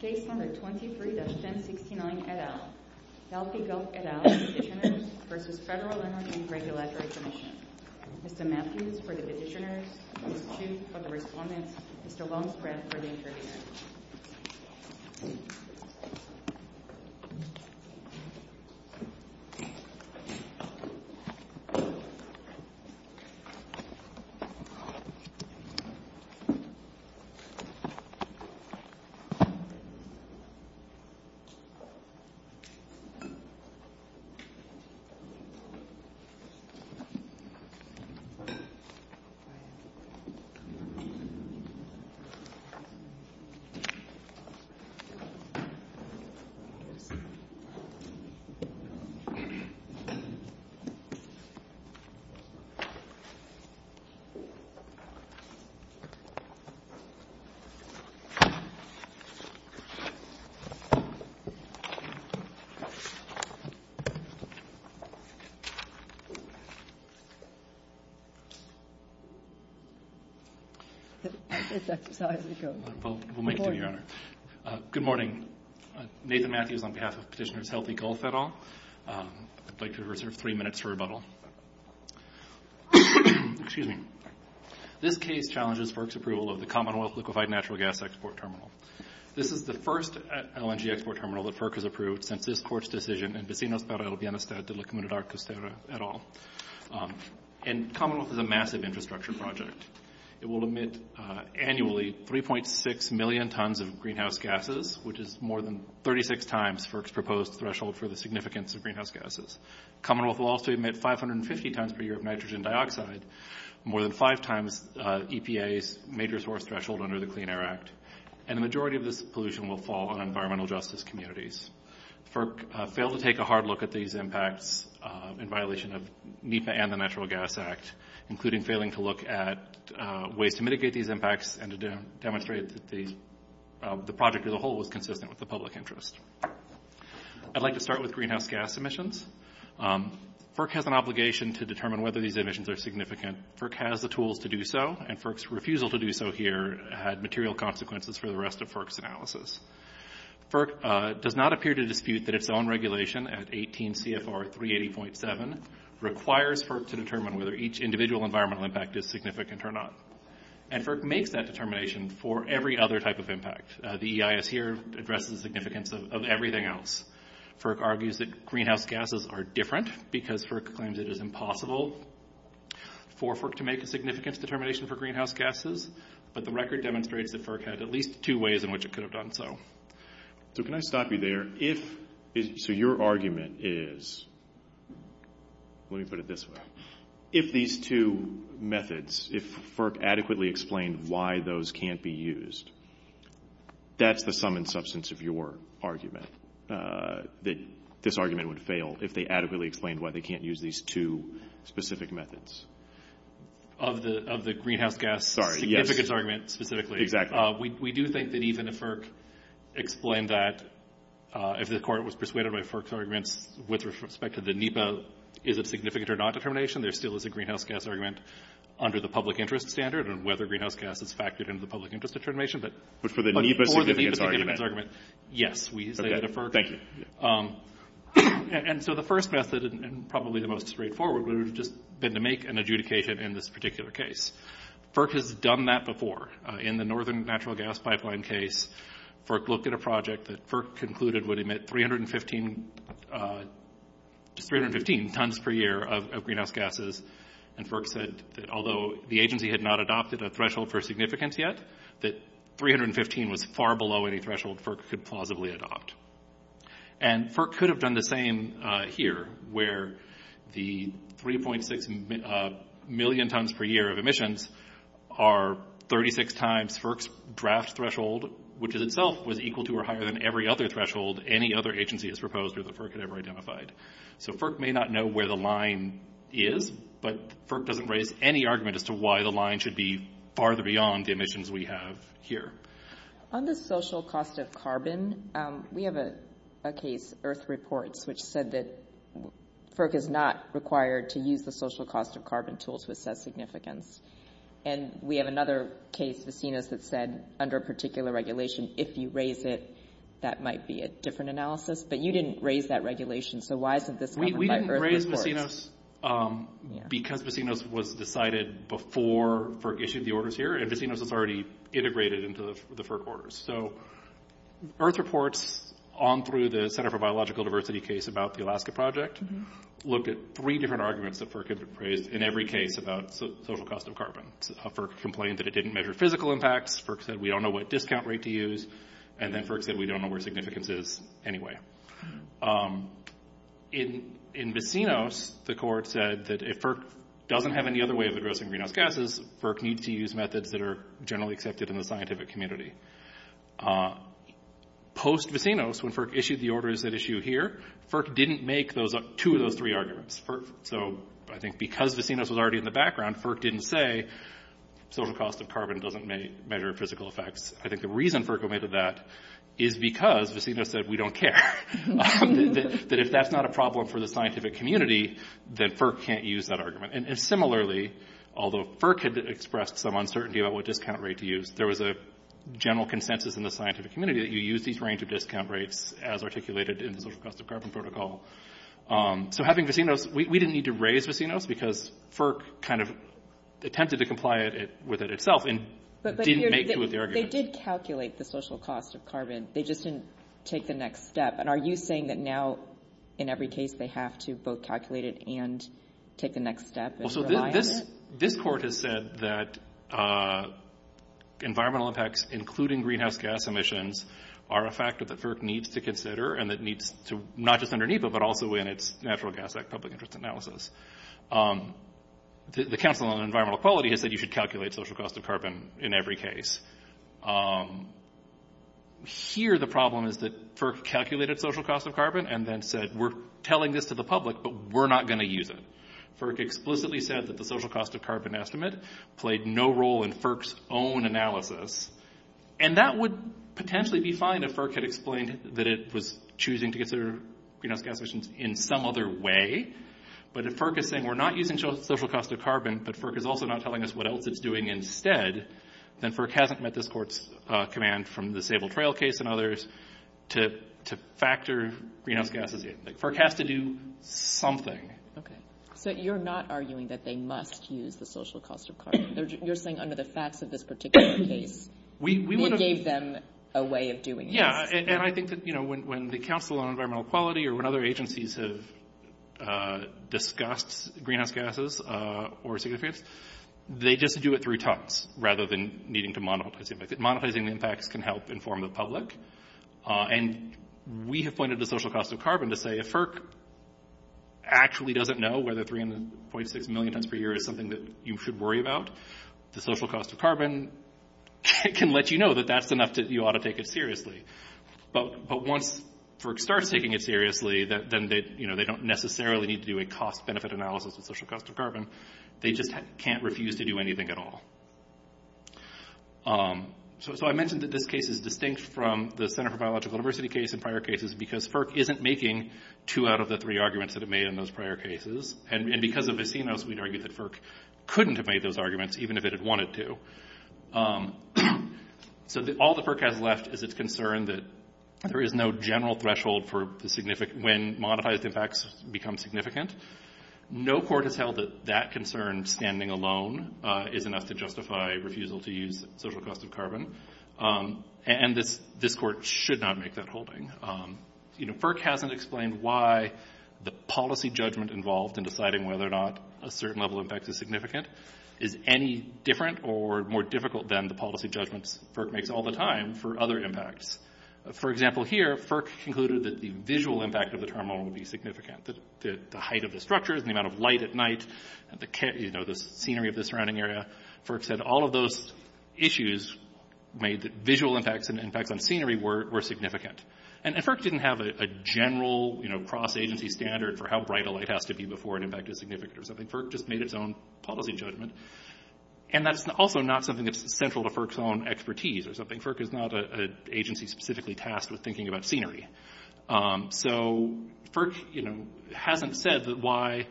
23-1069 et al. Delphi Gulf et al. Petitioners v. Federal Energy and Regulatory Commission Mr. Matthews for the petitioners, Ms. Chu for the respondents, Mr. Wamsbrad for the interviewers. Thank you. Thank you. Good morning. Good morning. Good morning. Nathan Matthews on behalf of Petitioners Healthy Gulf et al. I'd like to reserve three minutes for rebuttal. Excuse me. This case challenges FERC's approval of the Commonwealth Liquefied Natural Gas Export Terminal. This is the first LNG export terminal that FERC has approved since this Court's decision in Vecinos para el Bienestar de la Comunidad Costera et al. And Commonwealth is a massive infrastructure project. It will emit annually 3.6 million tons of greenhouse gases, which is more than 36 times FERC's proposed threshold for the significance of greenhouse gases. Commonwealth will also emit 550 tons per year of nitrogen dioxide, more than five times EPA's major source threshold under the Clean Air Act. And the majority of this pollution will fall on environmental justice communities. FERC failed to take a hard look at these impacts in violation of NEPA and the Natural Gas Act, including failing to look at ways to mitigate these impacts and to demonstrate that the project as a whole was consistent with the public interest. I'd like to start with greenhouse gas emissions. FERC has an obligation to determine whether these emissions are significant. FERC has the tools to do so, and FERC's refusal to do so here had material consequences for the rest of FERC's analysis. FERC does not appear to dispute that its own regulation at 18 CFR 380.7 requires FERC to determine whether each individual environmental impact is significant or not. And FERC makes that determination for every other type of impact. The EIS here addresses the significance of everything else. FERC argues that greenhouse gases are different because FERC claims it is impossible for FERC to make a significant determination for greenhouse gases. But the record demonstrates that FERC had at least two ways in which it could have done so. So can I stop you there? So your argument is, let me put it this way, if these two methods, if FERC adequately explained why those can't be used, that's the sum and substance of your argument, that this argument would fail if they adequately explained why they can't use these two specific methods. Exactly. We do think that even if FERC explained that, if the court was persuaded by FERC's arguments with respect to the NEPA, is it significant or not determination, there still is a greenhouse gas argument under the public interest standard on whether greenhouse gas is factored into the public interest determination. But for the NEPA significance argument. For the NEPA significance argument, yes, we say that to FERC. Thank you. And so the first method, and probably the most straightforward, would have just been to make an adjudication in this particular case. FERC has done that before. In the Northern Natural Gas Pipeline case, FERC looked at a project that FERC concluded would emit 315 tons per year of greenhouse gases, and FERC said that although the agency had not adopted a threshold for significance yet, that 315 was far below any threshold FERC could plausibly adopt. And FERC could have done the same here, where the 3.6 million tons per year of emissions are 36 times FERC's draft threshold, which in itself was equal to or higher than every other threshold any other agency has proposed or that FERC had ever identified. So FERC may not know where the line is, but FERC doesn't raise any argument as to why the line should be farther beyond the emissions we have here. On the social cost of carbon, we have a case, Earth Reports, which said that FERC is not required to use the social cost of carbon tools to assess significance. And we have another case, Vecinos, that said under a particular regulation, if you raise it, that might be a different analysis, but you didn't raise that regulation, so why isn't this covered by Earth Reports? We didn't raise Vecinos because Vecinos was decided before FERC issued the orders here, and Vecinos is already integrated into the FERC orders. So Earth Reports, on through the Center for Biological Diversity case about the Alaska project, looked at three different arguments that FERC had raised in every case about social cost of carbon. FERC complained that it didn't measure physical impacts, FERC said we don't know what discount rate to use, and then FERC said we don't know where significance is anyway. In Vecinos, the court said that if FERC doesn't have any other way of addressing greenhouse gases, FERC needs to use methods that are generally accepted in the scientific community. Post-Vecinos, when FERC issued the orders that issue here, FERC didn't make two of those three arguments. So I think because Vecinos was already in the background, FERC didn't say social cost of carbon doesn't measure physical effects. I think the reason FERC omitted that is because Vecinos said we don't care. That if that's not a problem for the scientific community, then FERC can't use that argument. And similarly, although FERC had expressed some uncertainty about what discount rate to use, there was a general consensus in the scientific community that you use these range of discount rates as articulated in the social cost of carbon protocol. So having Vecinos, we didn't need to raise Vecinos because FERC kind of attempted to comply with it itself and didn't make two of the arguments. But they did calculate the social cost of carbon, they just didn't take the next step. And are you saying that now in every case they have to both calculate it and take the next step and rely on it? Well, so this court has said that environmental impacts, including greenhouse gas emissions, are a factor that FERC needs to consider and that needs to not just underneath it, but also in its Natural Gas Act public interest analysis. The Council on Environmental Equality has said you should calculate social cost of carbon in every case. Here the problem is that FERC calculated social cost of carbon and then said, we're telling this to the public, but we're not going to use it. FERC explicitly said that the social cost of carbon estimate played no role in FERC's own analysis. And that would potentially be fine if FERC had explained that it was choosing to consider greenhouse gas emissions in some other way. But if FERC is saying we're not using social cost of carbon, but FERC is also not telling us what else it's doing instead, then FERC hasn't met this court's command from the Sable Trail case and others to factor greenhouse gases in. FERC has to do something. Okay. So you're not arguing that they must use the social cost of carbon. You're saying under the facts of this particular case it gave them a way of doing this. Yeah. And I think that, you know, when the Council on Environmental Equality or when other agencies have discussed greenhouse gases or significant greenhouse gases, they just do it through talks rather than needing to monetize the impact. Monetizing the impacts can help inform the public. And we have pointed to social cost of carbon to say, if FERC actually doesn't know whether 3.6 million tons per year is something that you should worry about, the social cost of carbon can let you know that that's enough that you ought to take it seriously. But once FERC starts taking it seriously, then they don't necessarily need to do a cost-benefit analysis of social cost of carbon. They just can't refuse to do anything at all. So I mentioned that this case is distinct from the Center for Biological Diversity case and prior cases because FERC isn't making two out of the three arguments that it made in those prior cases. And because of Vecinos, we'd argue that FERC couldn't have made those arguments even if it had wanted to. So all that FERC has left is its concern that there is no general threshold for when monetized impacts become significant. No court has held that that concern standing alone is enough to justify refusal to use social cost of carbon. And this court should not make that holding. FERC hasn't explained why the policy judgment involved in deciding whether or not a certain level of impact is significant is any different or more difficult than the policy judgments FERC makes all the time for other impacts. For example, here FERC concluded that the visual impact of the turmoil would be significant. The height of the structures, the amount of light at night, the scenery of the surrounding area. FERC said all of those issues made visual impacts and impacts on scenery were significant. And FERC didn't have a general cross-agency standard for how bright a light has to be before an impact is significant. FERC just made its own policy judgment. And that's also not something that's central to FERC's own expertise. FERC is not an agency specifically tasked with thinking about scenery. So FERC hasn't said why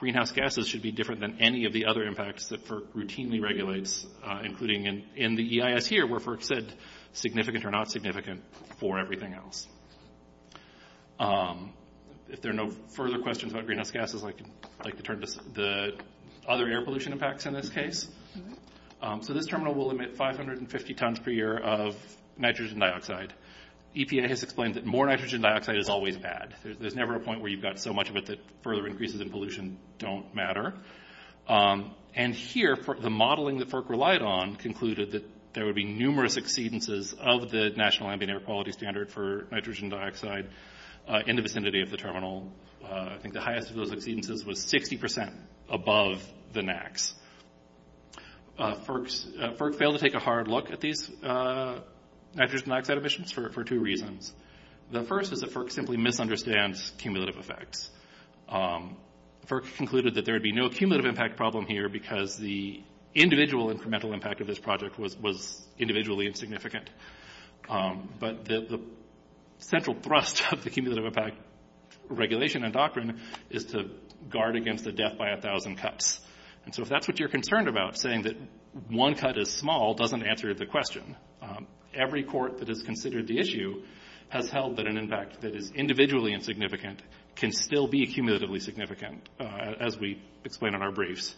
greenhouse gases should be different than any of the other impacts that FERC routinely regulates, including in the EIS here where FERC said significant or not significant for everything else. If there are no further questions about greenhouse gases, I'd like to turn to the other air pollution impacts in this case. So this terminal will emit 550 tons per year of nitrogen dioxide. EPA has explained that more nitrogen dioxide is always bad. There's never a point where you've got so much of it that further increases in pollution don't matter. And here, the modeling that FERC relied on concluded that there would be numerous exceedances of the National Ambient Air Quality Standard for nitrogen dioxide in the vicinity of the terminal. I think the highest of those exceedances was 60% above the NAAQS. FERC failed to take a hard look at these nitrogen dioxide emissions for two reasons. The first is that FERC simply misunderstands cumulative effects. FERC concluded that there would be no cumulative impact problem here because the individual incremental impact of this project was individually insignificant. But the central thrust of the cumulative impact regulation and doctrine is to guard against a death by a thousand cuts. And so if that's what you're concerned about, saying that one cut is small, doesn't answer the question. Every court that has considered the issue has held that an impact that is individually insignificant can still be cumulatively significant, as we explain in our briefs.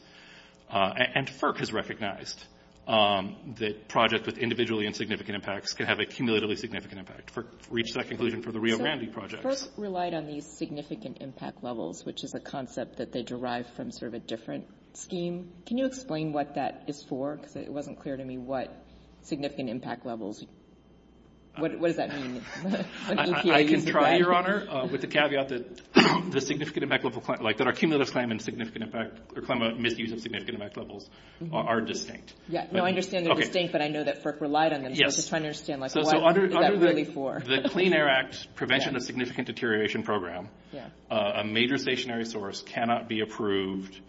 And FERC has recognized that projects with individually insignificant impacts can have a cumulatively significant impact. FERC reached that conclusion for the Rio Grande projects. FERC relied on these significant impact levels, which is a concept that they derived from sort of a different scheme. Can you explain what that is for? Because it wasn't clear to me what significant impact levels – what does that mean? I can try, Your Honor, with the caveat that our cumulative claim and claim of misuse of significant impact levels are distinct. No, I understand they're distinct, but I know that FERC relied on them. So I'm just trying to understand what is that really for? Under the Clean Air Act Prevention of Significant Deterioration Program, a major stationary source cannot be approved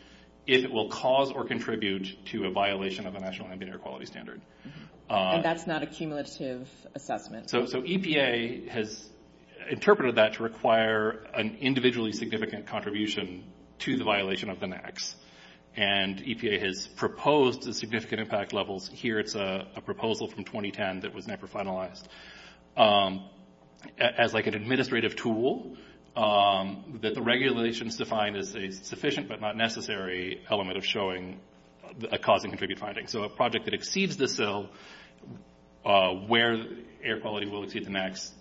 if it will cause or contribute to a violation of the National Ambient Air Quality Standard. And that's not a cumulative assessment? So EPA has interpreted that to require an individually significant contribution to the violation of the NAAQS. And EPA has proposed the significant impact levels – here it's a proposal from 2010 that was never finalized – as like an administrative tool that the regulations define as a sufficient but not necessary element of showing a cause and contribute finding. So a project that exceeds the SIL, where air quality will exceed the NAAQS,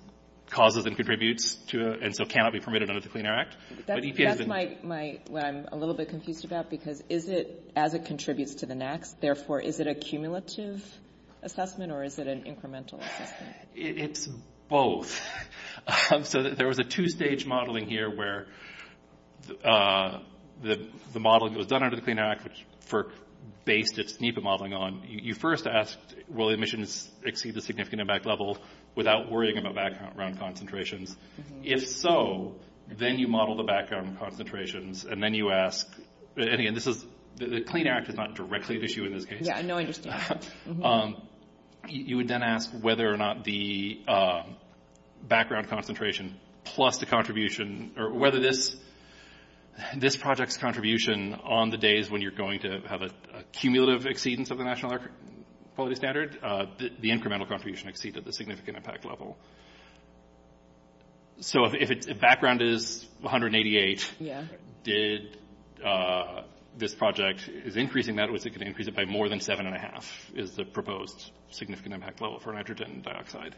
causes and contributes, and so cannot be permitted under the Clean Air Act. That's what I'm a little bit confused about, because is it as it contributes to the NAAQS? Therefore, is it a cumulative assessment or is it an incremental assessment? It's both. So there was a two-stage modeling here where the modeling was done under the Clean Air Act, which FERC based its NEPA modeling on. You first asked, will emissions exceed the significant impact level without worrying about background concentrations? If so, then you model the background concentrations, and then you ask – and again, the Clean Air Act is not directly at issue in this case. Yeah, no, I understand. You would then ask whether or not the background concentration plus the contribution – or whether this project's contribution on the days when you're going to have a cumulative exceedance of the National Air Quality Standard, the incremental contribution exceeds at the significant impact level. So if background is 188, did this project – is increasing that, or is it going to increase it by more than 7.5, is the proposed significant impact level for nitrogen dioxide?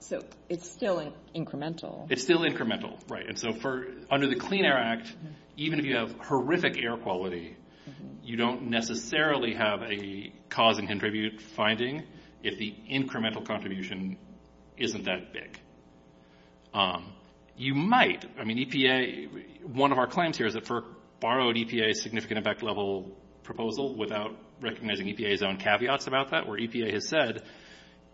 So it's still incremental. It's still incremental, right. And so under the Clean Air Act, even if you have horrific air quality, you don't necessarily have a cause-and-contribute finding if the incremental contribution isn't that big. You might. I mean, EPA – one of our claims here is that FERC borrowed EPA's significant impact level proposal without recognizing EPA's own caveats about that, where EPA has said,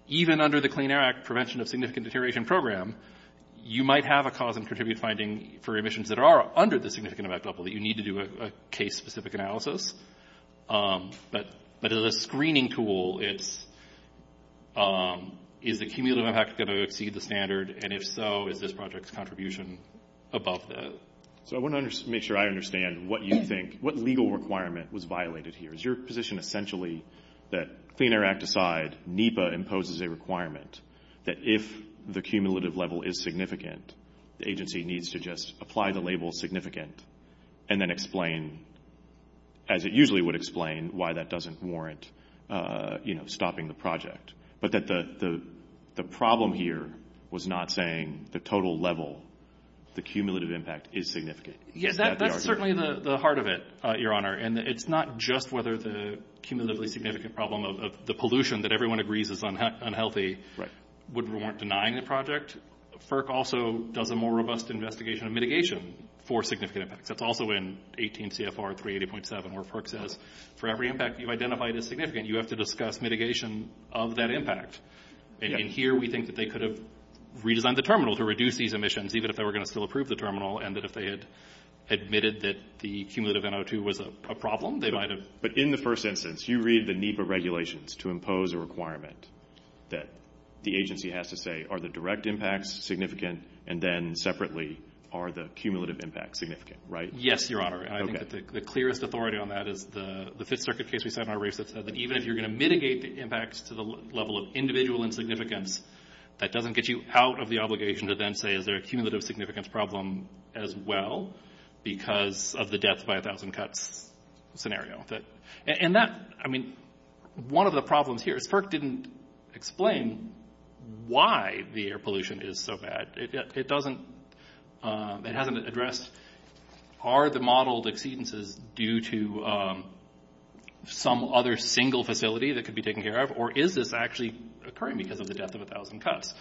even under the Clean Air Act Prevention of Significant Deterioration Program, you might have a cause-and-contribute finding for emissions that are under the significant impact level that you need to do a case-specific analysis. But as a screening tool, is the cumulative impact going to exceed the standard, and if so, is this project's contribution above that? So I want to make sure I understand what you think – what legal requirement was violated here. Is your position essentially that Clean Air Act aside, NEPA imposes a requirement that if the cumulative level is significant, the agency needs to just apply the label significant and then explain, as it usually would explain, why that doesn't warrant stopping the project, but that the problem here was not saying the total level, the cumulative impact is significant? Yes, that's certainly the heart of it, Your Honor, and it's not just whether the cumulatively significant problem of the pollution that everyone agrees is unhealthy would warrant denying the project. FERC also does a more robust investigation of mitigation for significant impacts. That's also in 18 CFR 380.7, where FERC says for every impact you've identified as significant, you have to discuss mitigation of that impact. And here we think that they could have redesigned the terminal to reduce these emissions, even if they were going to still approve the terminal, and that if they had admitted that the cumulative NO2 was a problem, they might have – But in the first instance, you read the NEPA regulations to impose a requirement that the agency has to say, are the direct impacts significant, and then separately, are the cumulative impacts significant, right? Yes, Your Honor. I think that the clearest authority on that is the Fifth Circuit case we set in our race that said that even if you're going to mitigate the impacts to the level of individual insignificance, that doesn't get you out of the obligation to then say, is there a cumulative significance problem as well because of the death by 1,000 cuts scenario? And that – I mean, one of the problems here is FERC didn't explain why the air pollution is so bad. It doesn't – it hasn't addressed are the modeled exceedances due to some other single facility that could be taken care of, or is this actually occurring because of the death of 1,000 cuts?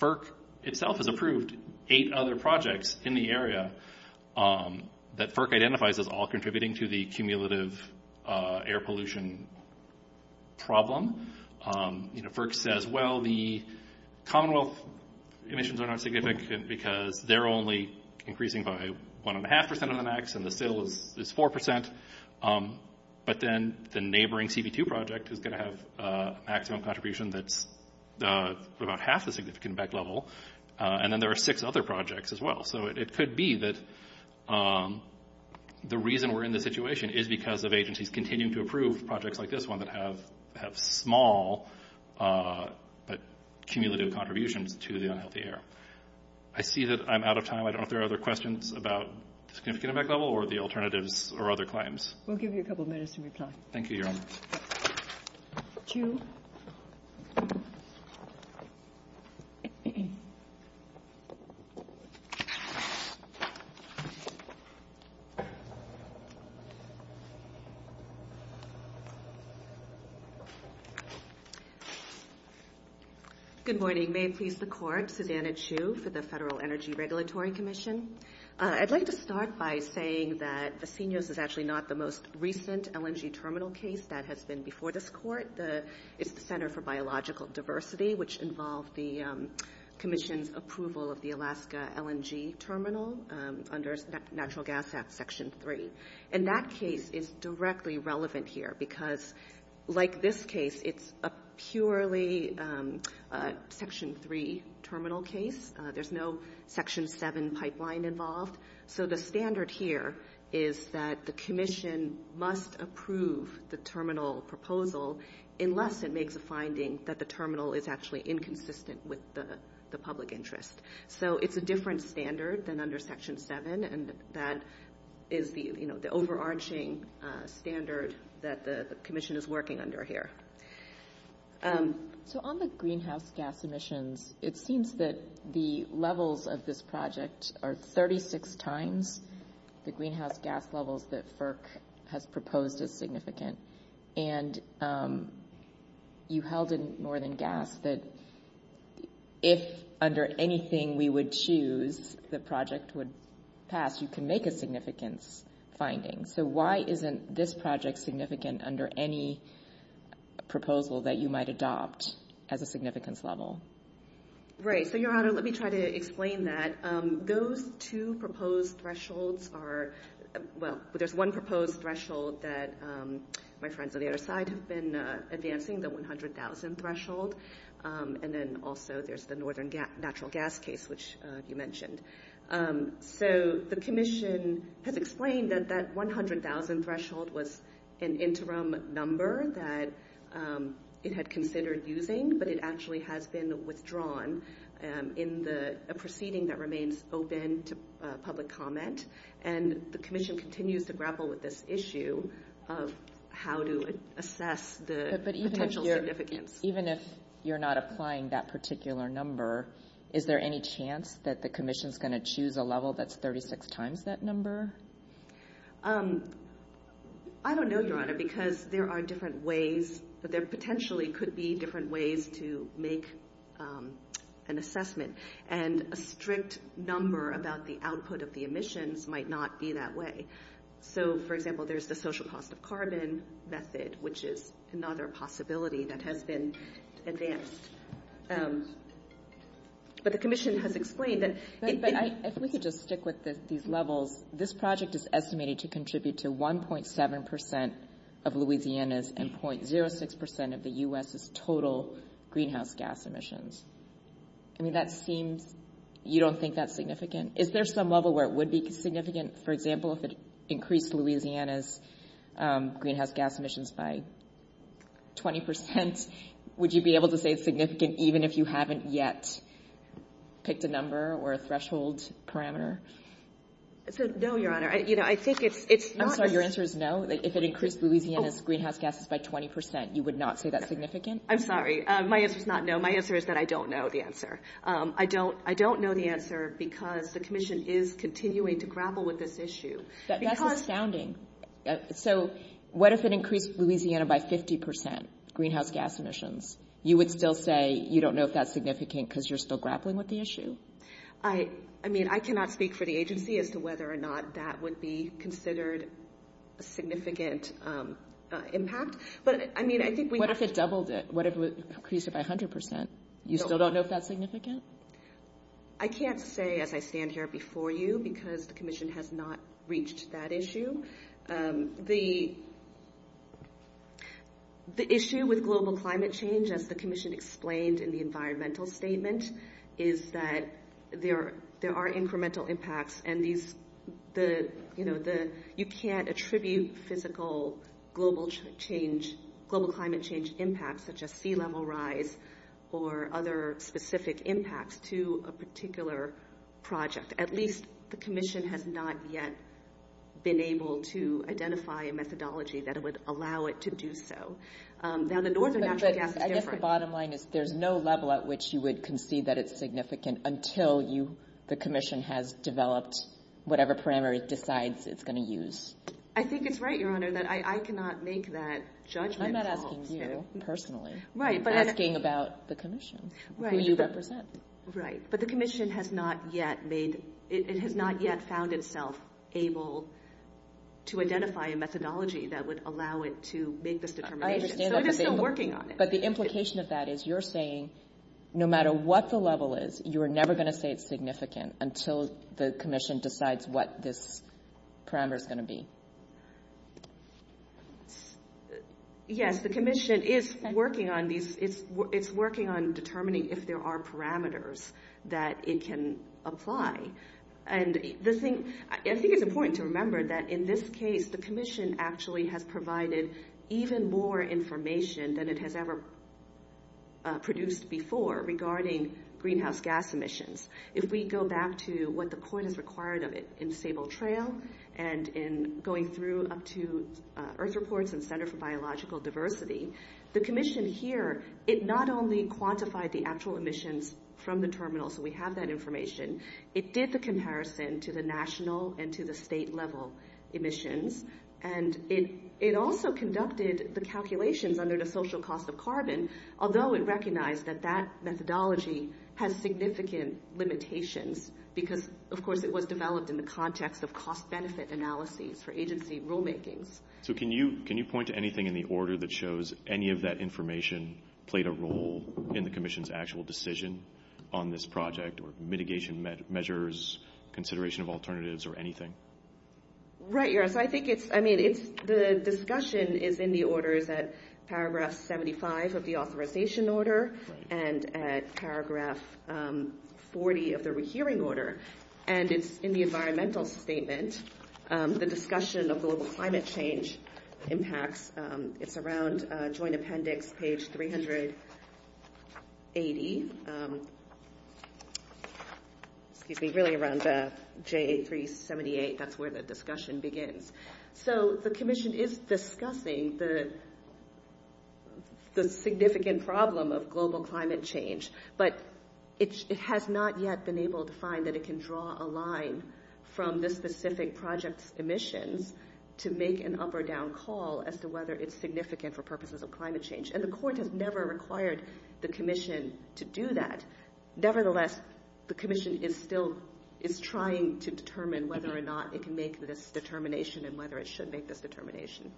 FERC itself has approved eight other projects in the area that FERC identifies as all contributing to the cumulative air pollution problem. FERC says, well, the Commonwealth emissions are not significant because they're only increasing by 1.5% of the max, and the sill is 4%, but then the neighboring CB2 project is going to have a maximum contribution that's about half the significant impact level, and then there are six other projects as well. So it could be that the reason we're in this situation is because of agencies continuing to approve projects like this one that have small but cumulative contributions to the unhealthy air. I see that I'm out of time. I don't know if there are other questions about the significant impact level or the alternatives or other claims. We'll give you a couple minutes to reply. Thank you, Your Honor. Thank you. Good morning. May it please the Court, Susanna Chu for the Federal Energy Regulatory Commission. I'd like to start by saying that Vecinos is actually not the most recent LNG terminal case that has been before this Court. It's the Center for Biological Diversity, which involved the commission's approval of the Alaska LNG terminal under Natural Gas Act Section 3. And that case is directly relevant here because, like this case, it's a purely Section 3 terminal case. There's no Section 7 pipeline involved. So the standard here is that the commission must approve the terminal proposal unless it makes a finding that the terminal is actually inconsistent with the public interest. So it's a different standard than under Section 7, and that is the overarching standard that the commission is working under here. So on the greenhouse gas emissions, it seems that the levels of this project are 36 times the greenhouse gas levels that FERC has proposed as significant. And you held in Northern Gas that if, under anything we would choose, the project would pass, you can make a significance finding. So why isn't this project significant under any proposal that you might adopt as a significance level? Right. So, Your Honor, let me try to explain that. Those two proposed thresholds are, well, there's one proposed threshold that my friends on the other side have been advancing, the 100,000 threshold. And then also there's the Northern Natural Gas case, which you mentioned. So the commission has explained that that 100,000 threshold was an interim number that it had considered using, but it actually has been withdrawn in a proceeding that remains open to public comment. And the commission continues to grapple with this issue of how to assess the potential significance. Even if you're not applying that particular number, is there any chance that the commission is going to choose a level that's 36 times that number? I don't know, Your Honor, because there are different ways, but there potentially could be different ways to make an assessment. And a strict number about the output of the emissions might not be that way. So, for example, there's the social cost of carbon method, which is another possibility that has been advanced. But the commission has explained that- But if we could just stick with these levels, this project is estimated to contribute to 1.7 percent of Louisiana's and 0.06 percent of the U.S.'s total greenhouse gas emissions. I mean, that seems, you don't think that's significant? Is there some level where it would be significant? For example, if it increased Louisiana's greenhouse gas emissions by 20 percent, would you be able to say it's significant even if you haven't yet picked a number or a threshold parameter? No, Your Honor. I think it's- I'm sorry. Your answer is no? If it increased Louisiana's greenhouse gases by 20 percent, you would not say that's significant? I'm sorry. My answer is not no. My answer is that I don't know the answer. I don't know the answer because the commission is continuing to grapple with this issue. That's astounding. So what if it increased Louisiana by 50 percent greenhouse gas emissions? You would still say you don't know if that's significant because you're still grappling with the issue? I mean, I cannot speak for the agency as to whether or not that would be considered a significant impact. But, I mean, I think we- What if it doubled it? What if it increased it by 100 percent? You still don't know if that's significant? I can't say as I stand here before you because the commission has not reached that issue. The issue with global climate change, as the commission explained in the environmental statement, is that there are incremental impacts, and you can't attribute physical global climate change impacts, such as sea level rise or other specific impacts, to a particular project. At least the commission has not yet been able to identify a methodology that would allow it to do so. Now, the northern natural gas is different. I think the bottom line is there's no level at which you would concede that it's significant until the commission has developed whatever parameter it decides it's going to use. I think it's right, Your Honor, that I cannot make that judgment. I'm not asking you personally. I'm asking about the commission, who you represent. Right, but the commission has not yet made- it has not yet found itself able to identify a methodology that would allow it to make this determination. So it is still working on it. But the implication of that is you're saying no matter what the level is, you are never going to say it's significant until the commission decides what this parameter is going to be. Yes, the commission is working on determining if there are parameters that it can apply. I think it's important to remember that in this case, the commission actually has provided even more information than it has ever produced before regarding greenhouse gas emissions. If we go back to what the court has required of it in Sable Trail and in going through up to Earth Reports and Center for Biological Diversity, the commission here, it not only quantified the actual emissions from the terminal, so we have that information, it did the comparison to the national and to the state level emissions, and it also conducted the calculations under the social cost of carbon, although it recognized that that methodology has significant limitations because, of course, it was developed in the context of cost-benefit analyses for agency rulemakings. So can you point to anything in the order that shows any of that information played a role in the commission's actual decision on this project or mitigation measures, consideration of alternatives, or anything? Right, yes. I mean, the discussion is in the orders at paragraph 75 of the authorization order and at paragraph 40 of the rehearing order, and it's in the environmental statement, the discussion of global climate change impacts. It's around joint appendix page 380, excuse me, really around J378. That's where the discussion begins. So the commission is discussing the significant problem of global climate change, but it has not yet been able to find that it can draw a line from the specific project's emissions to make an up-or-down call as to whether it's significant for purposes of climate change, and the court has never required the commission to do that. Nevertheless, the commission is still trying to determine whether or not it can make this determination and whether it should make this determination.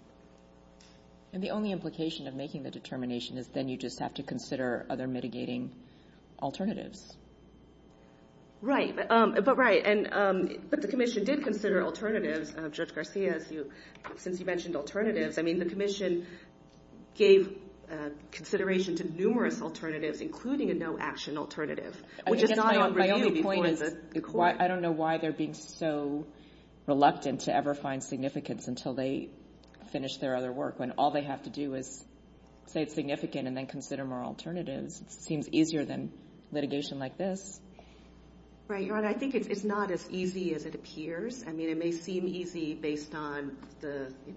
And the only implication of making the determination is then you just have to consider other mitigating alternatives. Right, but right. Since you mentioned alternatives, I mean, the commission gave consideration to numerous alternatives, including a no-action alternative, which is not on review before the court. I guess my only point is I don't know why they're being so reluctant to ever find significance until they finish their other work when all they have to do is say it's significant and then consider more alternatives. It seems easier than litigation like this. Right, and I think it's not as easy as it appears. I mean, it may seem easy based on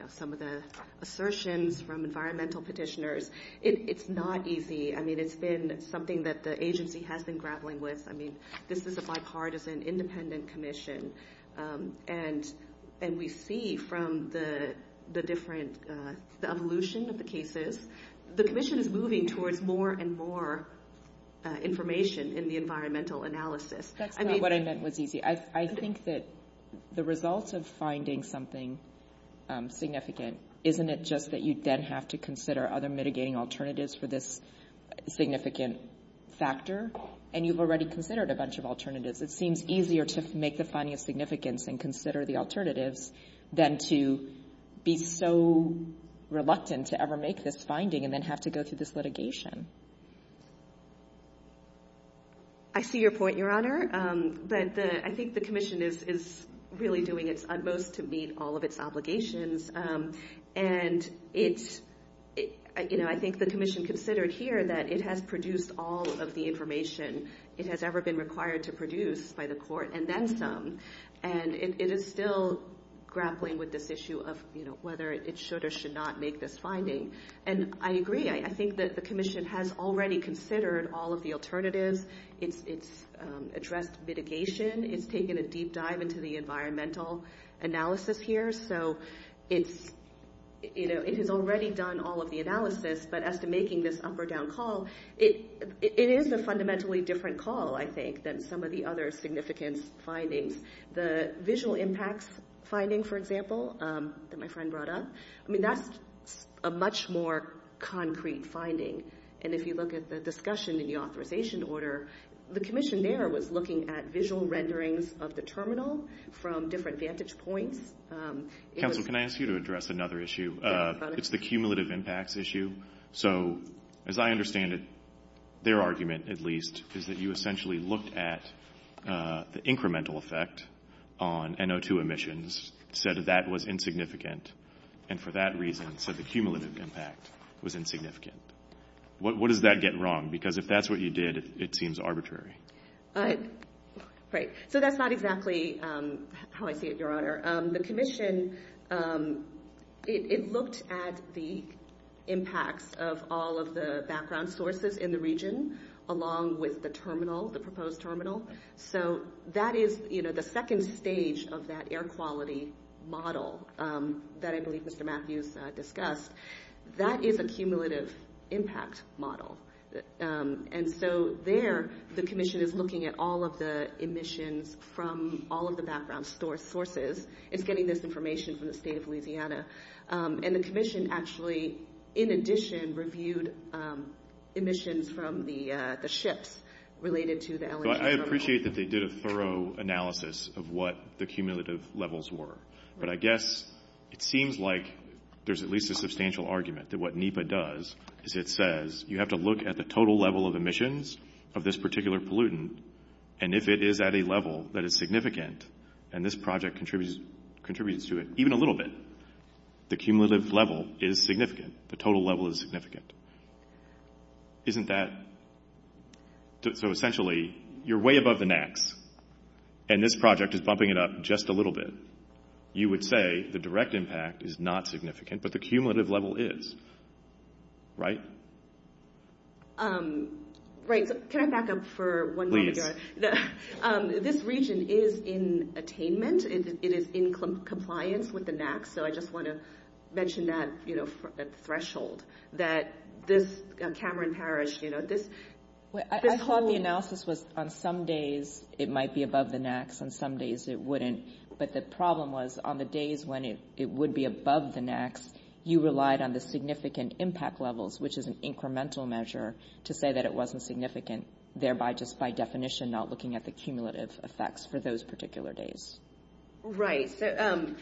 some of the assertions from environmental petitioners. It's not easy. I mean, it's been something that the agency has been grappling with. I mean, this is a bipartisan, independent commission, and we see from the evolution of the cases, the commission is moving towards more and more information in the environmental analysis. That's not what I meant was easy. I think that the results of finding something significant, isn't it just that you then have to consider other mitigating alternatives for this significant factor? And you've already considered a bunch of alternatives. It seems easier to make the finding of significance and consider the alternatives than to be so reluctant to ever make this finding and then have to go through this litigation. I see your point, Your Honor. But I think the commission is really doing its utmost to meet all of its obligations. And I think the commission considered here that it has produced all of the information it has ever been required to produce by the court and then some. And it is still grappling with this issue of whether it should or should not make this finding. And I agree. I think that the commission has already considered all of the alternatives. It's addressed mitigation. It's taken a deep dive into the environmental analysis here. So it has already done all of the analysis. But as to making this up or down call, it is a fundamentally different call, I think, than some of the other significance findings. The visual impacts finding, for example, that my friend brought up, I mean that's a much more concrete finding. And if you look at the discussion in the authorization order, the commission there was looking at visual renderings of the terminal from different vantage points. Counsel, can I ask you to address another issue? It's the cumulative impacts issue. So as I understand it, their argument, at least, is that you essentially looked at the incremental effect on NO2 emissions, said that that was insignificant, and for that reason said the cumulative impact was insignificant. What does that get wrong? Because if that's what you did, it seems arbitrary. Right. So that's not exactly how I see it, Your Honor. The commission, it looked at the impacts of all of the background sources in the region along with the terminal, the proposed terminal. So that is the second stage of that air quality model that I believe Mr. Matthews discussed. That is a cumulative impact model. And so there the commission is looking at all of the emissions from all of the background sources. It's getting this information from the state of Louisiana. And the commission actually, in addition, reviewed emissions from the ships related to the LNG terminal. I appreciate that they did a thorough analysis of what the cumulative levels were. But I guess it seems like there's at least a substantial argument that what NEPA does is it says you have to look at the total level of emissions of this particular pollutant, and if it is at a level that is significant, and this project contributes to it even a little bit, the cumulative level is significant. The total level is significant. Isn't that? So essentially you're way above the NAAQS, and this project is bumping it up just a little bit. You would say the direct impact is not significant, but the cumulative level is. Right? Right. Can I back up for one moment, Your Honor? Please. This region is in attainment. It is in compliance with the NAAQS. So I just want to mention that threshold, that this Cameron Parish, you know, this whole. I thought the analysis was on some days it might be above the NAAQS, on some days it wouldn't. But the problem was on the days when it would be above the NAAQS, you relied on the significant impact levels, which is an incremental measure, to say that it wasn't significant, thereby just by definition not looking at the cumulative effects for those particular days. Right.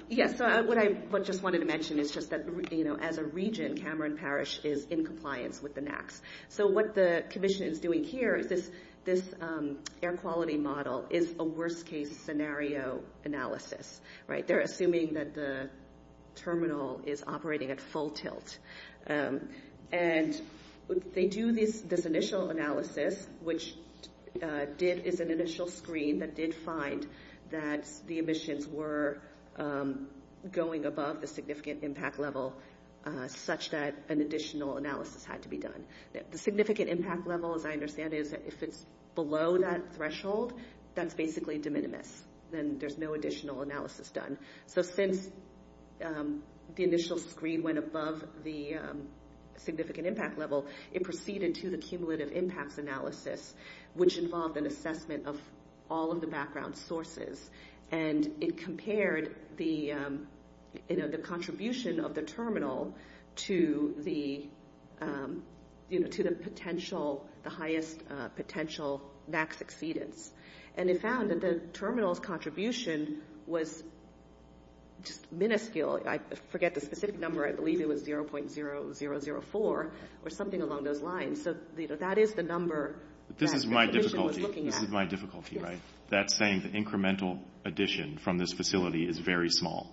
Yes. So what I just wanted to mention is just that, you know, as a region, Cameron Parish is in compliance with the NAAQS. So what the commission is doing here is this air quality model is a worst-case scenario analysis. Right? They're assuming that the terminal is operating at full tilt. And they do this initial analysis, which did, is an initial screen that did find that the emissions were going above the significant impact level, such that an additional analysis had to be done. The significant impact level, as I understand it, is if it's below that threshold, that's basically de minimis. Then there's no additional analysis done. So since the initial screen went above the significant impact level, it proceeded to the cumulative impacts analysis, which involved an assessment of all of the background sources. And it compared the contribution of the terminal to the potential, the highest potential NAAQS exceedance. And it found that the terminal's contribution was just minuscule. I forget the specific number. I believe it was 0.0004 or something along those lines. So, you know, that is the number that the commission was looking at. This is my difficulty. This is my difficulty, right? That's saying the incremental addition from this facility is very small.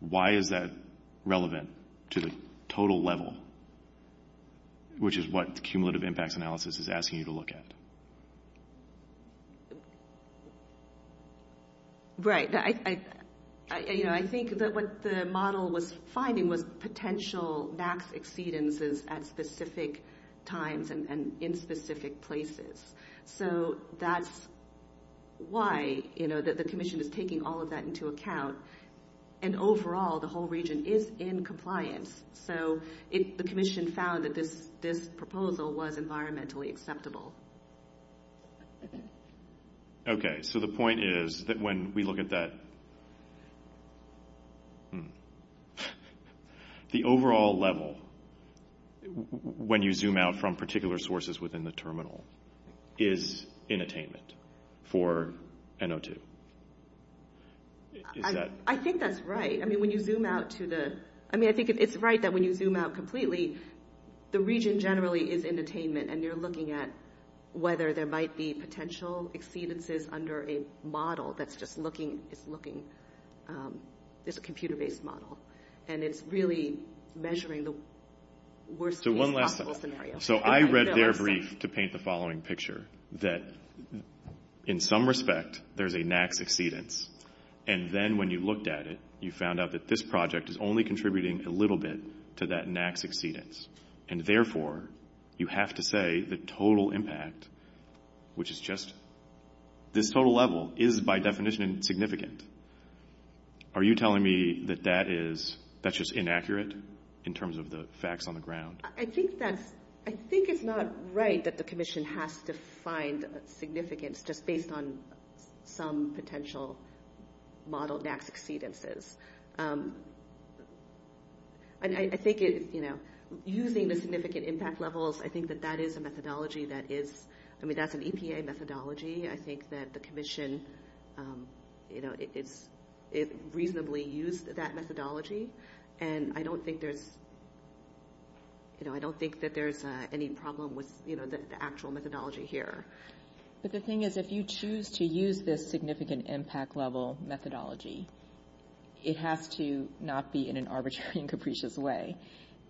Why is that relevant to the total level, which is what the cumulative impacts analysis is asking you to look at? Right. I think that what the model was finding was potential NAAQS exceedances at specific times and in specific places. So that's why the commission is taking all of that into account. And overall, the whole region is in compliance. So the commission found that this proposal was environmentally acceptable. Okay. So the point is that when we look at that, the overall level when you zoom out from particular sources within the terminal is in attainment for NO2. I think that's right. I mean, when you zoom out to the ñ I mean, I think it's right that when you zoom out completely, the region generally is in attainment, and you're looking at whether there might be potential exceedances under a model that's just looking ñ it's a computer-based model. And it's really measuring the worst case possible scenario. So I read their brief to paint the following picture, that in some respect there's a NAAQS exceedance. And then when you looked at it, you found out that this project is only contributing a little bit to that NAAQS exceedance. And therefore, you have to say the total impact, which is just this total level, is by definition significant. Are you telling me that that's just inaccurate in terms of the facts on the ground? I think it's not right that the commission has to find significance just based on some potential model NAAQS exceedances. I think using the significant impact levels, I think that that is a methodology that is ñ I mean, that's an EPA methodology. I think that the commission reasonably used that methodology. And I don't think there's any problem with the actual methodology here. But the thing is, if you choose to use this significant impact level methodology, it has to not be in an arbitrary and capricious way.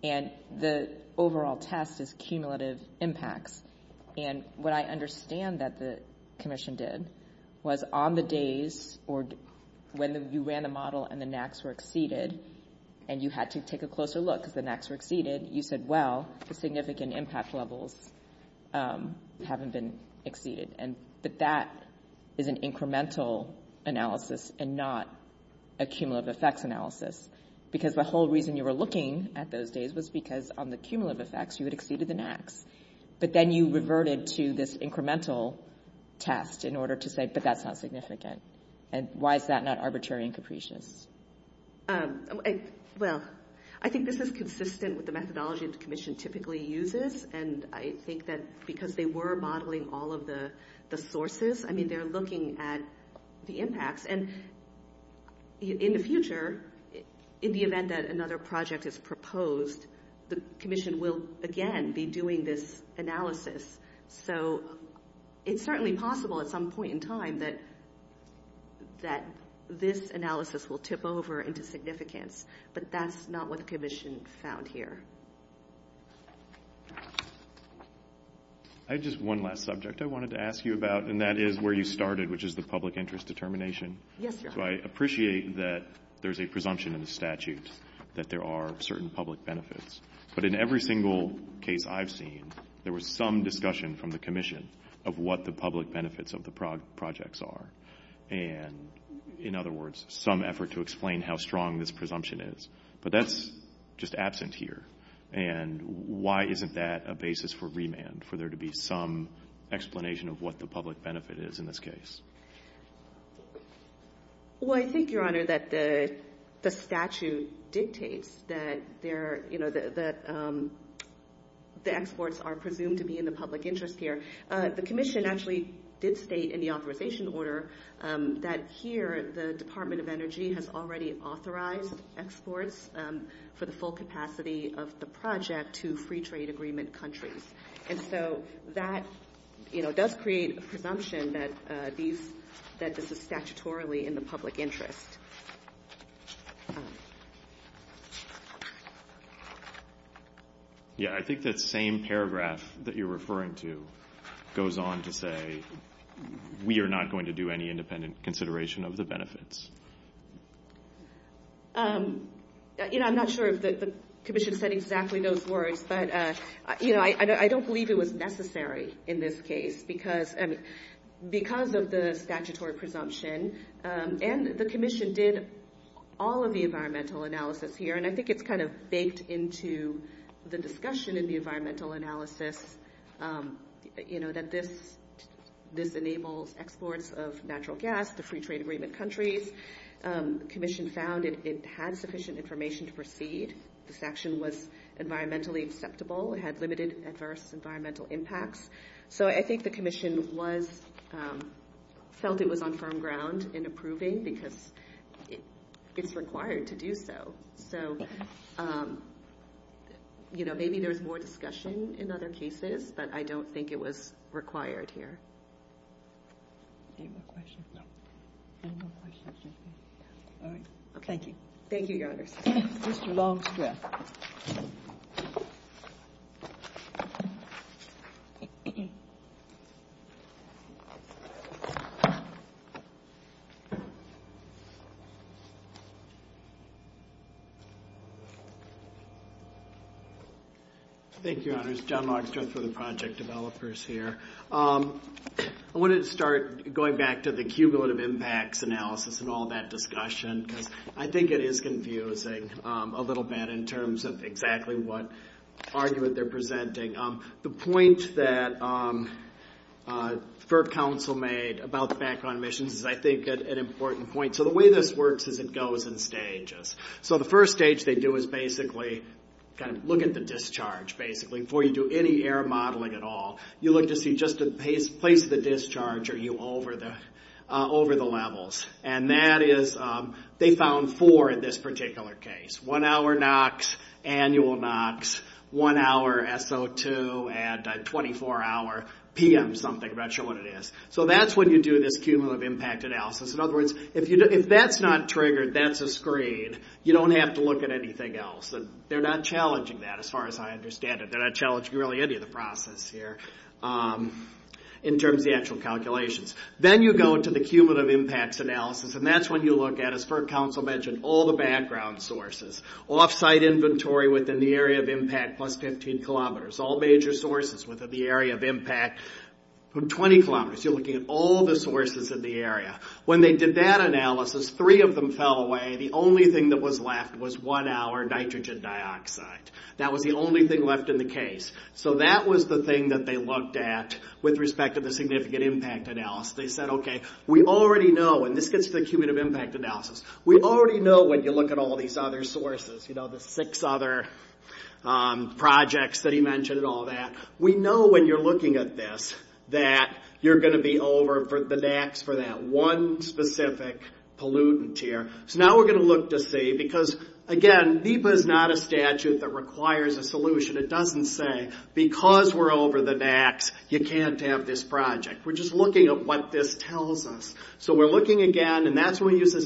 And the overall test is cumulative impacts. And what I understand that the commission did was on the days when you ran the model and the NAAQS were exceeded, and you had to take a closer look because the NAAQS were exceeded, you said, well, the significant impact levels haven't been exceeded. But that is an incremental analysis and not a cumulative effects analysis. Because the whole reason you were looking at those days was because on the cumulative effects, you had exceeded the NAAQS. But then you reverted to this incremental test in order to say, but that's not significant. And why is that not arbitrary and capricious? Well, I think this is consistent with the methodology the commission typically uses. And I think that because they were modeling all of the sources, I mean, they're looking at the impacts. And in the future, in the event that another project is proposed, the commission will again be doing this analysis. So it's certainly possible at some point in time that this analysis will tip over into significance. But that's not what the commission found here. I had just one last subject I wanted to ask you about, and that is where you started, which is the public interest determination. Yes, Your Honor. So I appreciate that there's a presumption in the statute that there are certain public benefits. But in every single case I've seen, there was some discussion from the commission of what the public benefits of the projects are. And in other words, some effort to explain how strong this presumption is. But that's just absent here. And why isn't that a basis for remand, for there to be some explanation of what the public benefit is in this case? Well, I think, Your Honor, that the statute dictates that they're, you know, that the exports are presumed to be in the public interest here. The commission actually did state in the authorization order that here the Department of Energy has already authorized exports for the full capacity of the project to free trade agreement countries. And so that, you know, does create a presumption that these, that this is statutorily in the public interest. Yeah, I think that same paragraph that you're referring to goes on to say, we are not going to do any independent consideration of the benefits. You know, I'm not sure if the commission said exactly those words, but, you know, I don't believe it was necessary in this case because of the statutory presumption. And the commission did all of the environmental analysis here, and I think it's kind of baked into the discussion in the environmental analysis, you know, that this enables exports of natural gas to free trade agreement countries. The section was environmentally acceptable, had limited adverse environmental impacts. So I think the commission was, felt it was on firm ground in approving because it's required to do so. So, you know, maybe there's more discussion in other cases, but I don't think it was required here. Any more questions? No. Any more questions? All right. Thank you. Thank you, Your Honors. Mr. Longstreth. Thank you, Your Honors. John Longstreth with the Project Developers here. I wanted to start going back to the cumulative impacts analysis and all that discussion because I think it is confusing a little bit in terms of exactly what argument they're presenting. The point that FERC Council made about the background emissions is, I think, an important point. So the way this works is it goes in stages. So the first stage they do is basically kind of look at the discharge, basically, before you do any air modeling at all. You look to see just the place of the discharge, are you over the levels? And that is they found four in this particular case. One-hour NOx, annual NOx, one-hour SO2, and 24-hour PM something. I'm not sure what it is. So that's when you do this cumulative impact analysis. In other words, if that's not triggered, that's a screen. You don't have to look at anything else. They're not challenging that as far as I understand it. They're not challenging really any of the process here in terms of the actual calculations. Then you go into the cumulative impacts analysis, and that's when you look at, as FERC Council mentioned, all the background sources. Offsite inventory within the area of impact plus 15 kilometers. All major sources within the area of impact from 20 kilometers. You're looking at all the sources in the area. When they did that analysis, three of them fell away. The only thing that was left was one-hour nitrogen dioxide. That was the only thing left in the case. So that was the thing that they looked at with respect to the significant impact analysis. They said, okay, we already know, and this gets to the cumulative impact analysis, we already know when you look at all these other sources, the six other projects that he mentioned and all that. We know when you're looking at this that you're going to be over the NOx for that one specific pollutant here. So now we're going to look to see, because again, NEPA is not a statute that requires a solution. It doesn't say, because we're over the NOx, you can't have this project. We're just looking at what this tells us. So we're looking again, and that's when we use the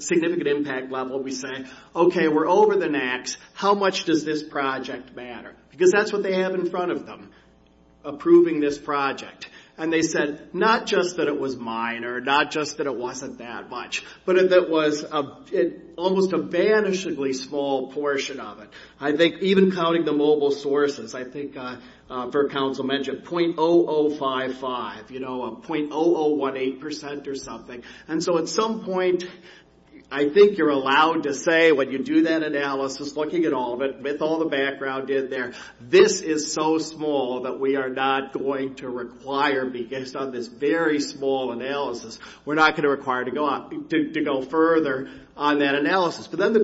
significant impact level. We say, okay, we're over the NOx. How much does this project matter? Because that's what they have in front of them, approving this project. And they said, not just that it was minor, not just that it wasn't that much, but that it was almost a vanishingly small portion of it. I think even counting the mobile sources, I think Bert Council mentioned .0055, .0018% or something. And so at some point, I think you're allowed to say when you do that analysis, looking at all of it, with all the background in there, this is so small that we are not going to require, based on this very small analysis, we're not going to require to go further on that analysis. How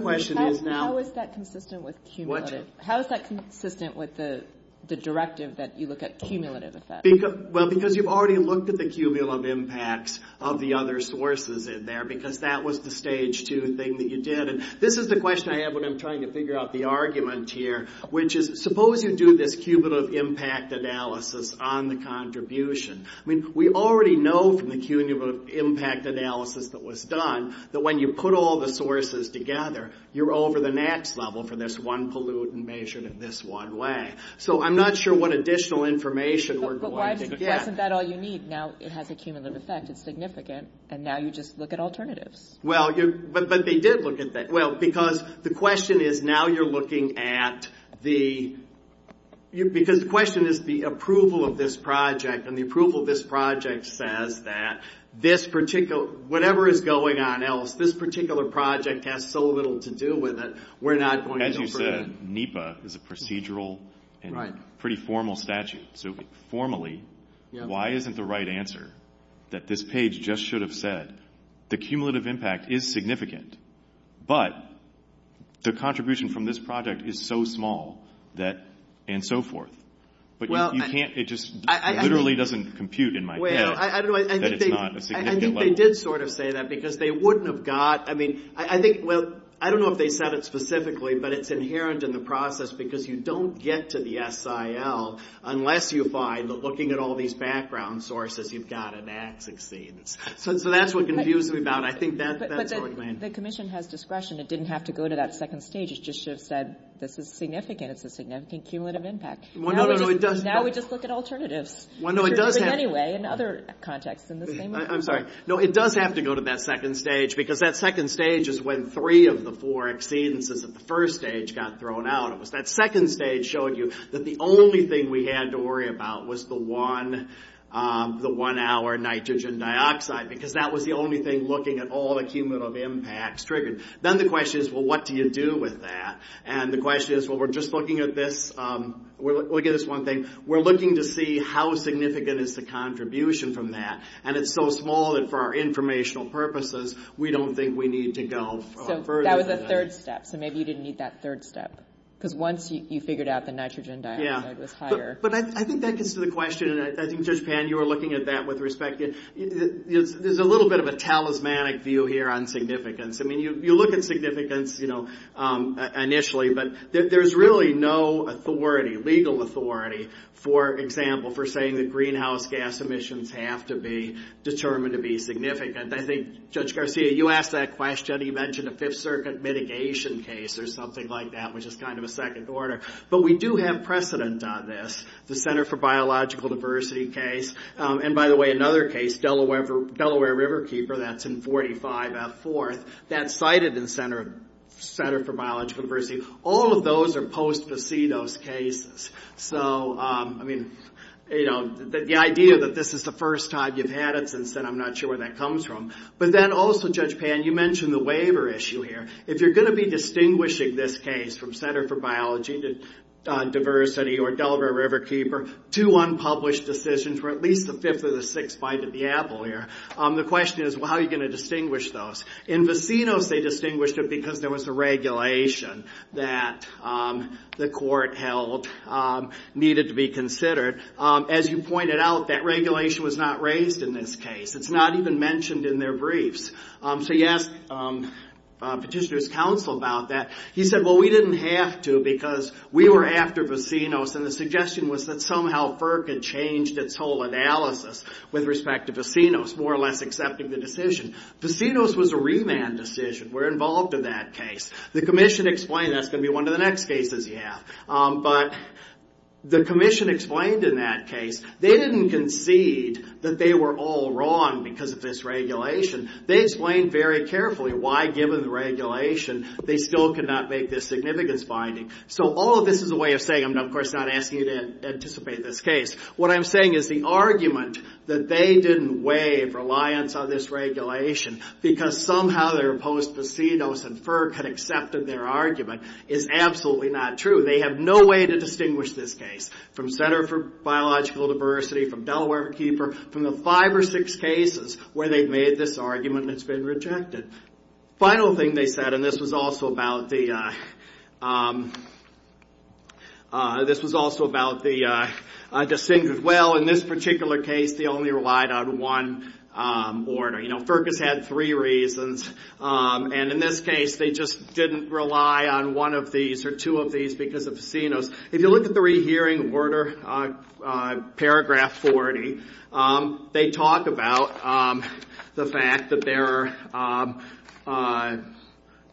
is that consistent with the directive that you look at cumulative effects? Because you've already looked at the cumulative impacts of the other sources in there, because that was the stage two thing that you did. This is the question I have when I'm trying to figure out the argument here, which is suppose you do this cumulative impact analysis on the contribution. We already know from the cumulative impact analysis that was done that when you put all the sources together, you're over the next level for this one pollutant measured in this one way. So I'm not sure what additional information we're going to get. But wasn't that all you need? Now it has a cumulative effect. It's significant. And now you just look at alternatives. Well, but they did look at that. Well, because the question is now you're looking at the... Because the question is the approval of this project, and the approval of this project says that whatever is going on else, this particular project has so little to do with it, we're not going to go further. As you said, NEPA is a procedural and pretty formal statute. So formally, why isn't the right answer that this page just should have said, the cumulative impact is significant, but the contribution from this project is so small and so forth. It just literally doesn't compute in my head that it's not a significant level. I think they did sort of say that because they wouldn't have got... I mean, I think, well, I don't know if they said it specifically, but it's inherent in the process because you don't get to the SIL unless you find that looking at all these background sources, you've got a max exceeds. So that's what confused me about it. But the commission has discretion. It didn't have to go to that second stage. It just should have said this is significant. It's a significant cumulative impact. Now we just look at alternatives anyway in other contexts. I'm sorry. No, it does have to go to that second stage because that second stage is when three of the four exceedances at the first stage got thrown out of us. That second stage showed you that the only thing we had to worry about was the one-hour nitrogen dioxide because that was the only thing looking at all the cumulative impacts triggered. Then the question is, well, what do you do with that? And the question is, well, we're just looking at this. We'll get this one thing. We're looking to see how significant is the contribution from that. And it's so small that for our informational purposes, we don't think we need to go further than that. So that was the third step. So maybe you didn't need that third step because once you figured out the nitrogen dioxide was higher. But I think that gets to the question, and I think, Judge Pan, you were looking at that with respect. There's a little bit of a talismanic view here on significance. I mean, you look at significance initially, but there's really no authority, legal authority, for example, for saying that greenhouse gas emissions have to be determined to be significant. I think, Judge Garcia, you asked that question. You mentioned a Fifth Circuit mitigation case or something like that, which is kind of a second order. But we do have precedent on this, the Center for Biological Diversity case. And by the way, another case, Delaware Riverkeeper, that's in 45F 4th, that's cited in Center for Biological Diversity. All of those are post-facitos cases. So, I mean, the idea that this is the first time you've had it since then, I'm not sure where that comes from. But then also, Judge Pan, you mentioned the waiver issue here. If you're going to be distinguishing this case from Center for Biology to Diversity or Delaware Riverkeeper, two unpublished decisions were at least the fifth or the sixth bite of the apple here. The question is, how are you going to distinguish those? In vicinos, they distinguished it because there was a regulation that the court held needed to be considered. As you pointed out, that regulation was not raised in this case. It's not even mentioned in their briefs. So you asked Petitioner's counsel about that. He said, well, we didn't have to because we were after vicinos. And the suggestion was that somehow FERC had changed its whole analysis with respect to vicinos, more or less accepting the decision. Vicinos was a remand decision. We're involved in that case. The commission explained that's going to be one of the next cases you have. But the commission explained in that case, they didn't concede that they were all wrong because of this regulation. They explained very carefully why, given the regulation, they still could not make this significance binding. So all of this is a way of saying, I'm, of course, not asking you to anticipate this case. What I'm saying is the argument that they didn't waive reliance on this regulation because somehow their post-vicinos and FERC had accepted their argument is absolutely not true. They have no way to distinguish this case from Center for Biological Diversity, from Delaware Keeper, from the five or six cases where they've made this argument and it's been rejected. The final thing they said, and this was also about the distinct as well, in this particular case, they only relied on one order. FERC has had three reasons. In this case, they just didn't rely on one of these or two of these because of vicinos. If you look at the rehearing order, paragraph 40, they talk about the fact that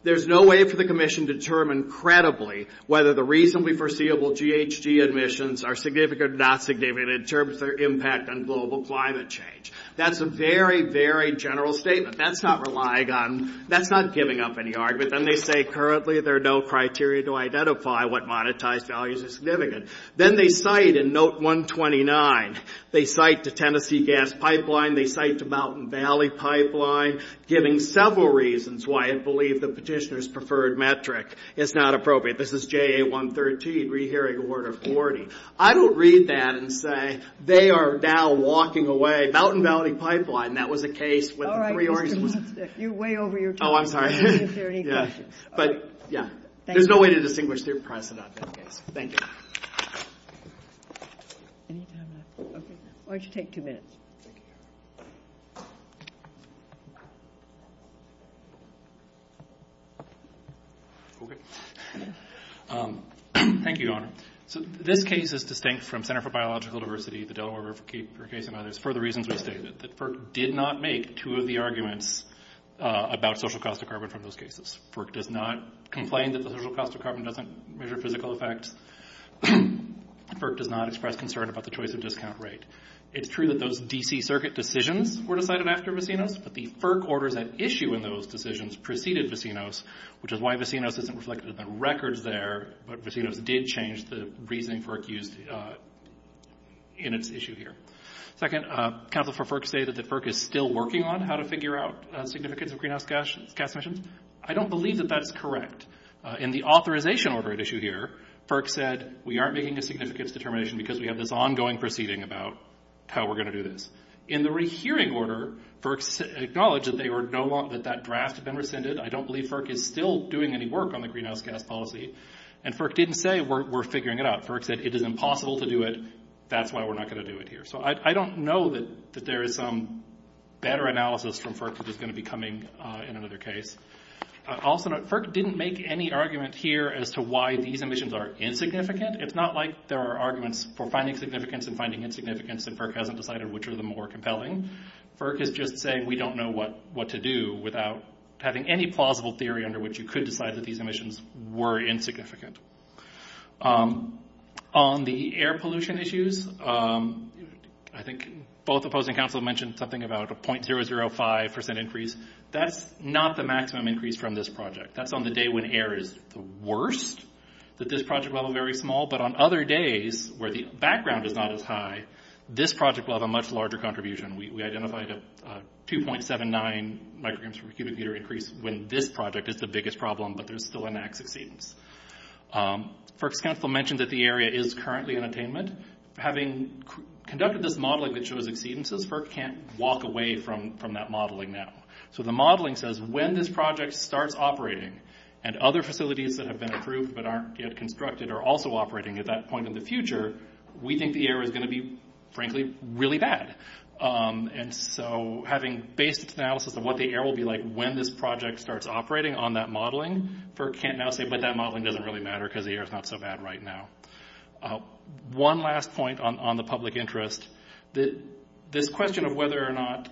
there's no way for the commission to determine credibly whether the reasonably foreseeable GHG emissions are significant or not significant in terms of their impact on global climate change. That's a very, very general statement. That's not relying on, that's not giving up any argument. Then they say currently there are no criteria to identify what monetized values are significant. Then they cite in Note 129, they cite the Tennessee Gas Pipeline, they cite the Mountain Valley Pipeline, giving several reasons why it believed the petitioner's preferred metric is not appropriate. This is JA 113, Rehearing Order 40. I don't read that and say they are now walking away. Mountain Valley Pipeline, that was a case when the three organizations... All right, Mr. Munstick, you're way over your time. Oh, I'm sorry. But, yeah, there's no way to distinguish their precedent in that case. Thank you. Why don't you take two minutes? Thank you, Your Honor. This case is distinct from Center for Biological Diversity, the Delaware River case, and there's further reasons we state it, that FERC did not make two of the arguments about social cost of carbon from those cases. FERC does not complain that the social cost of carbon doesn't measure physical effects. FERC does not express concern about the choice of discount rate. It's true that those D.C. Circuit decisions were decided after Vecinos, but the FERC orders at issue in those decisions preceded Vecinos, which is why Vecinos isn't reflected in the records there, but Vecinos did change the reasoning FERC used in its issue here. Second, counsel for FERC say that the FERC is still working on how to figure out the significance of greenhouse gas emissions. I don't believe that that's correct. In the authorization order at issue here, FERC said we aren't making a significance determination because we have this ongoing proceeding about how we're going to do this. In the rehearing order, FERC acknowledged that that draft had been rescinded. I don't believe FERC is still doing any work on the greenhouse gas policy, and FERC didn't say we're figuring it out. FERC said it is impossible to do it. That's why we're not going to do it here. I don't know that there is some better analysis from FERC that is going to be coming in another case. Also, FERC didn't make any argument here as to why these emissions are insignificant. It's not like there are arguments for finding significance and finding insignificance, and FERC hasn't decided which are the more compelling. FERC is just saying we don't know what to do without having any plausible theory under which you could decide that these emissions were insignificant. On the air pollution issues, I think both opposing counsel mentioned something about a .005% increase. That's not the maximum increase from this project. That's on the day when air is the worst, that this project level is very small, but on other days where the background is not as high, this project will have a much larger contribution. We identified a 2.79 micrograms per cubic meter increase when this project is the biggest problem, but there's still a max exceedance. FERC's counsel mentioned that the area is currently in attainment. Having conducted this modeling that shows exceedances, FERC can't walk away from that modeling now. The modeling says when this project starts operating, and other facilities that have been approved but aren't yet constructed are also operating at that point in the future, we think the air is going to be, frankly, really bad. Having based its analysis of what the air will be like when this project starts operating on that modeling, FERC can't now say, but that modeling doesn't really matter because the air is not so bad right now. One last point on the public interest. This question of whether or not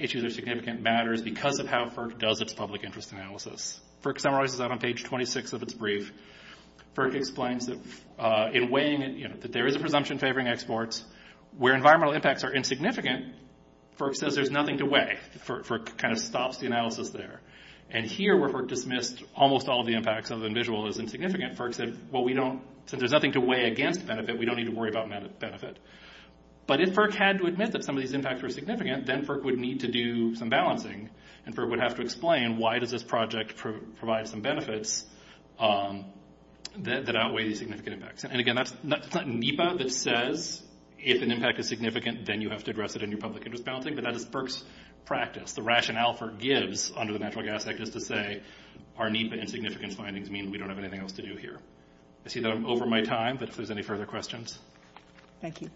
issues are significant matters because of how FERC does its public interest analysis. FERC summarizes that on page 26 of its brief. FERC explains that there is a presumption favoring exports. Where environmental impacts are insignificant, FERC says there's nothing to weigh. FERC stops the analysis there. Here, where FERC dismissed almost all of the impacts other than visual as insignificant, FERC said, since there's nothing to weigh against benefit, we don't need to worry about benefit. But if FERC had to admit that some of these impacts were significant, then FERC would need to do some balancing. FERC would have to explain why does this project provide some benefits that outweigh the significant impacts. Again, that's not NEPA that says if an impact is significant, then you have to address it in your public interest balancing, but that is FERC's practice. The rationale FERC gives under the Natural Gas Act is to say, our NEPA insignificant findings mean we don't have anything else to do here. I see that I'm over my time, but if there's any further questions. Thank you.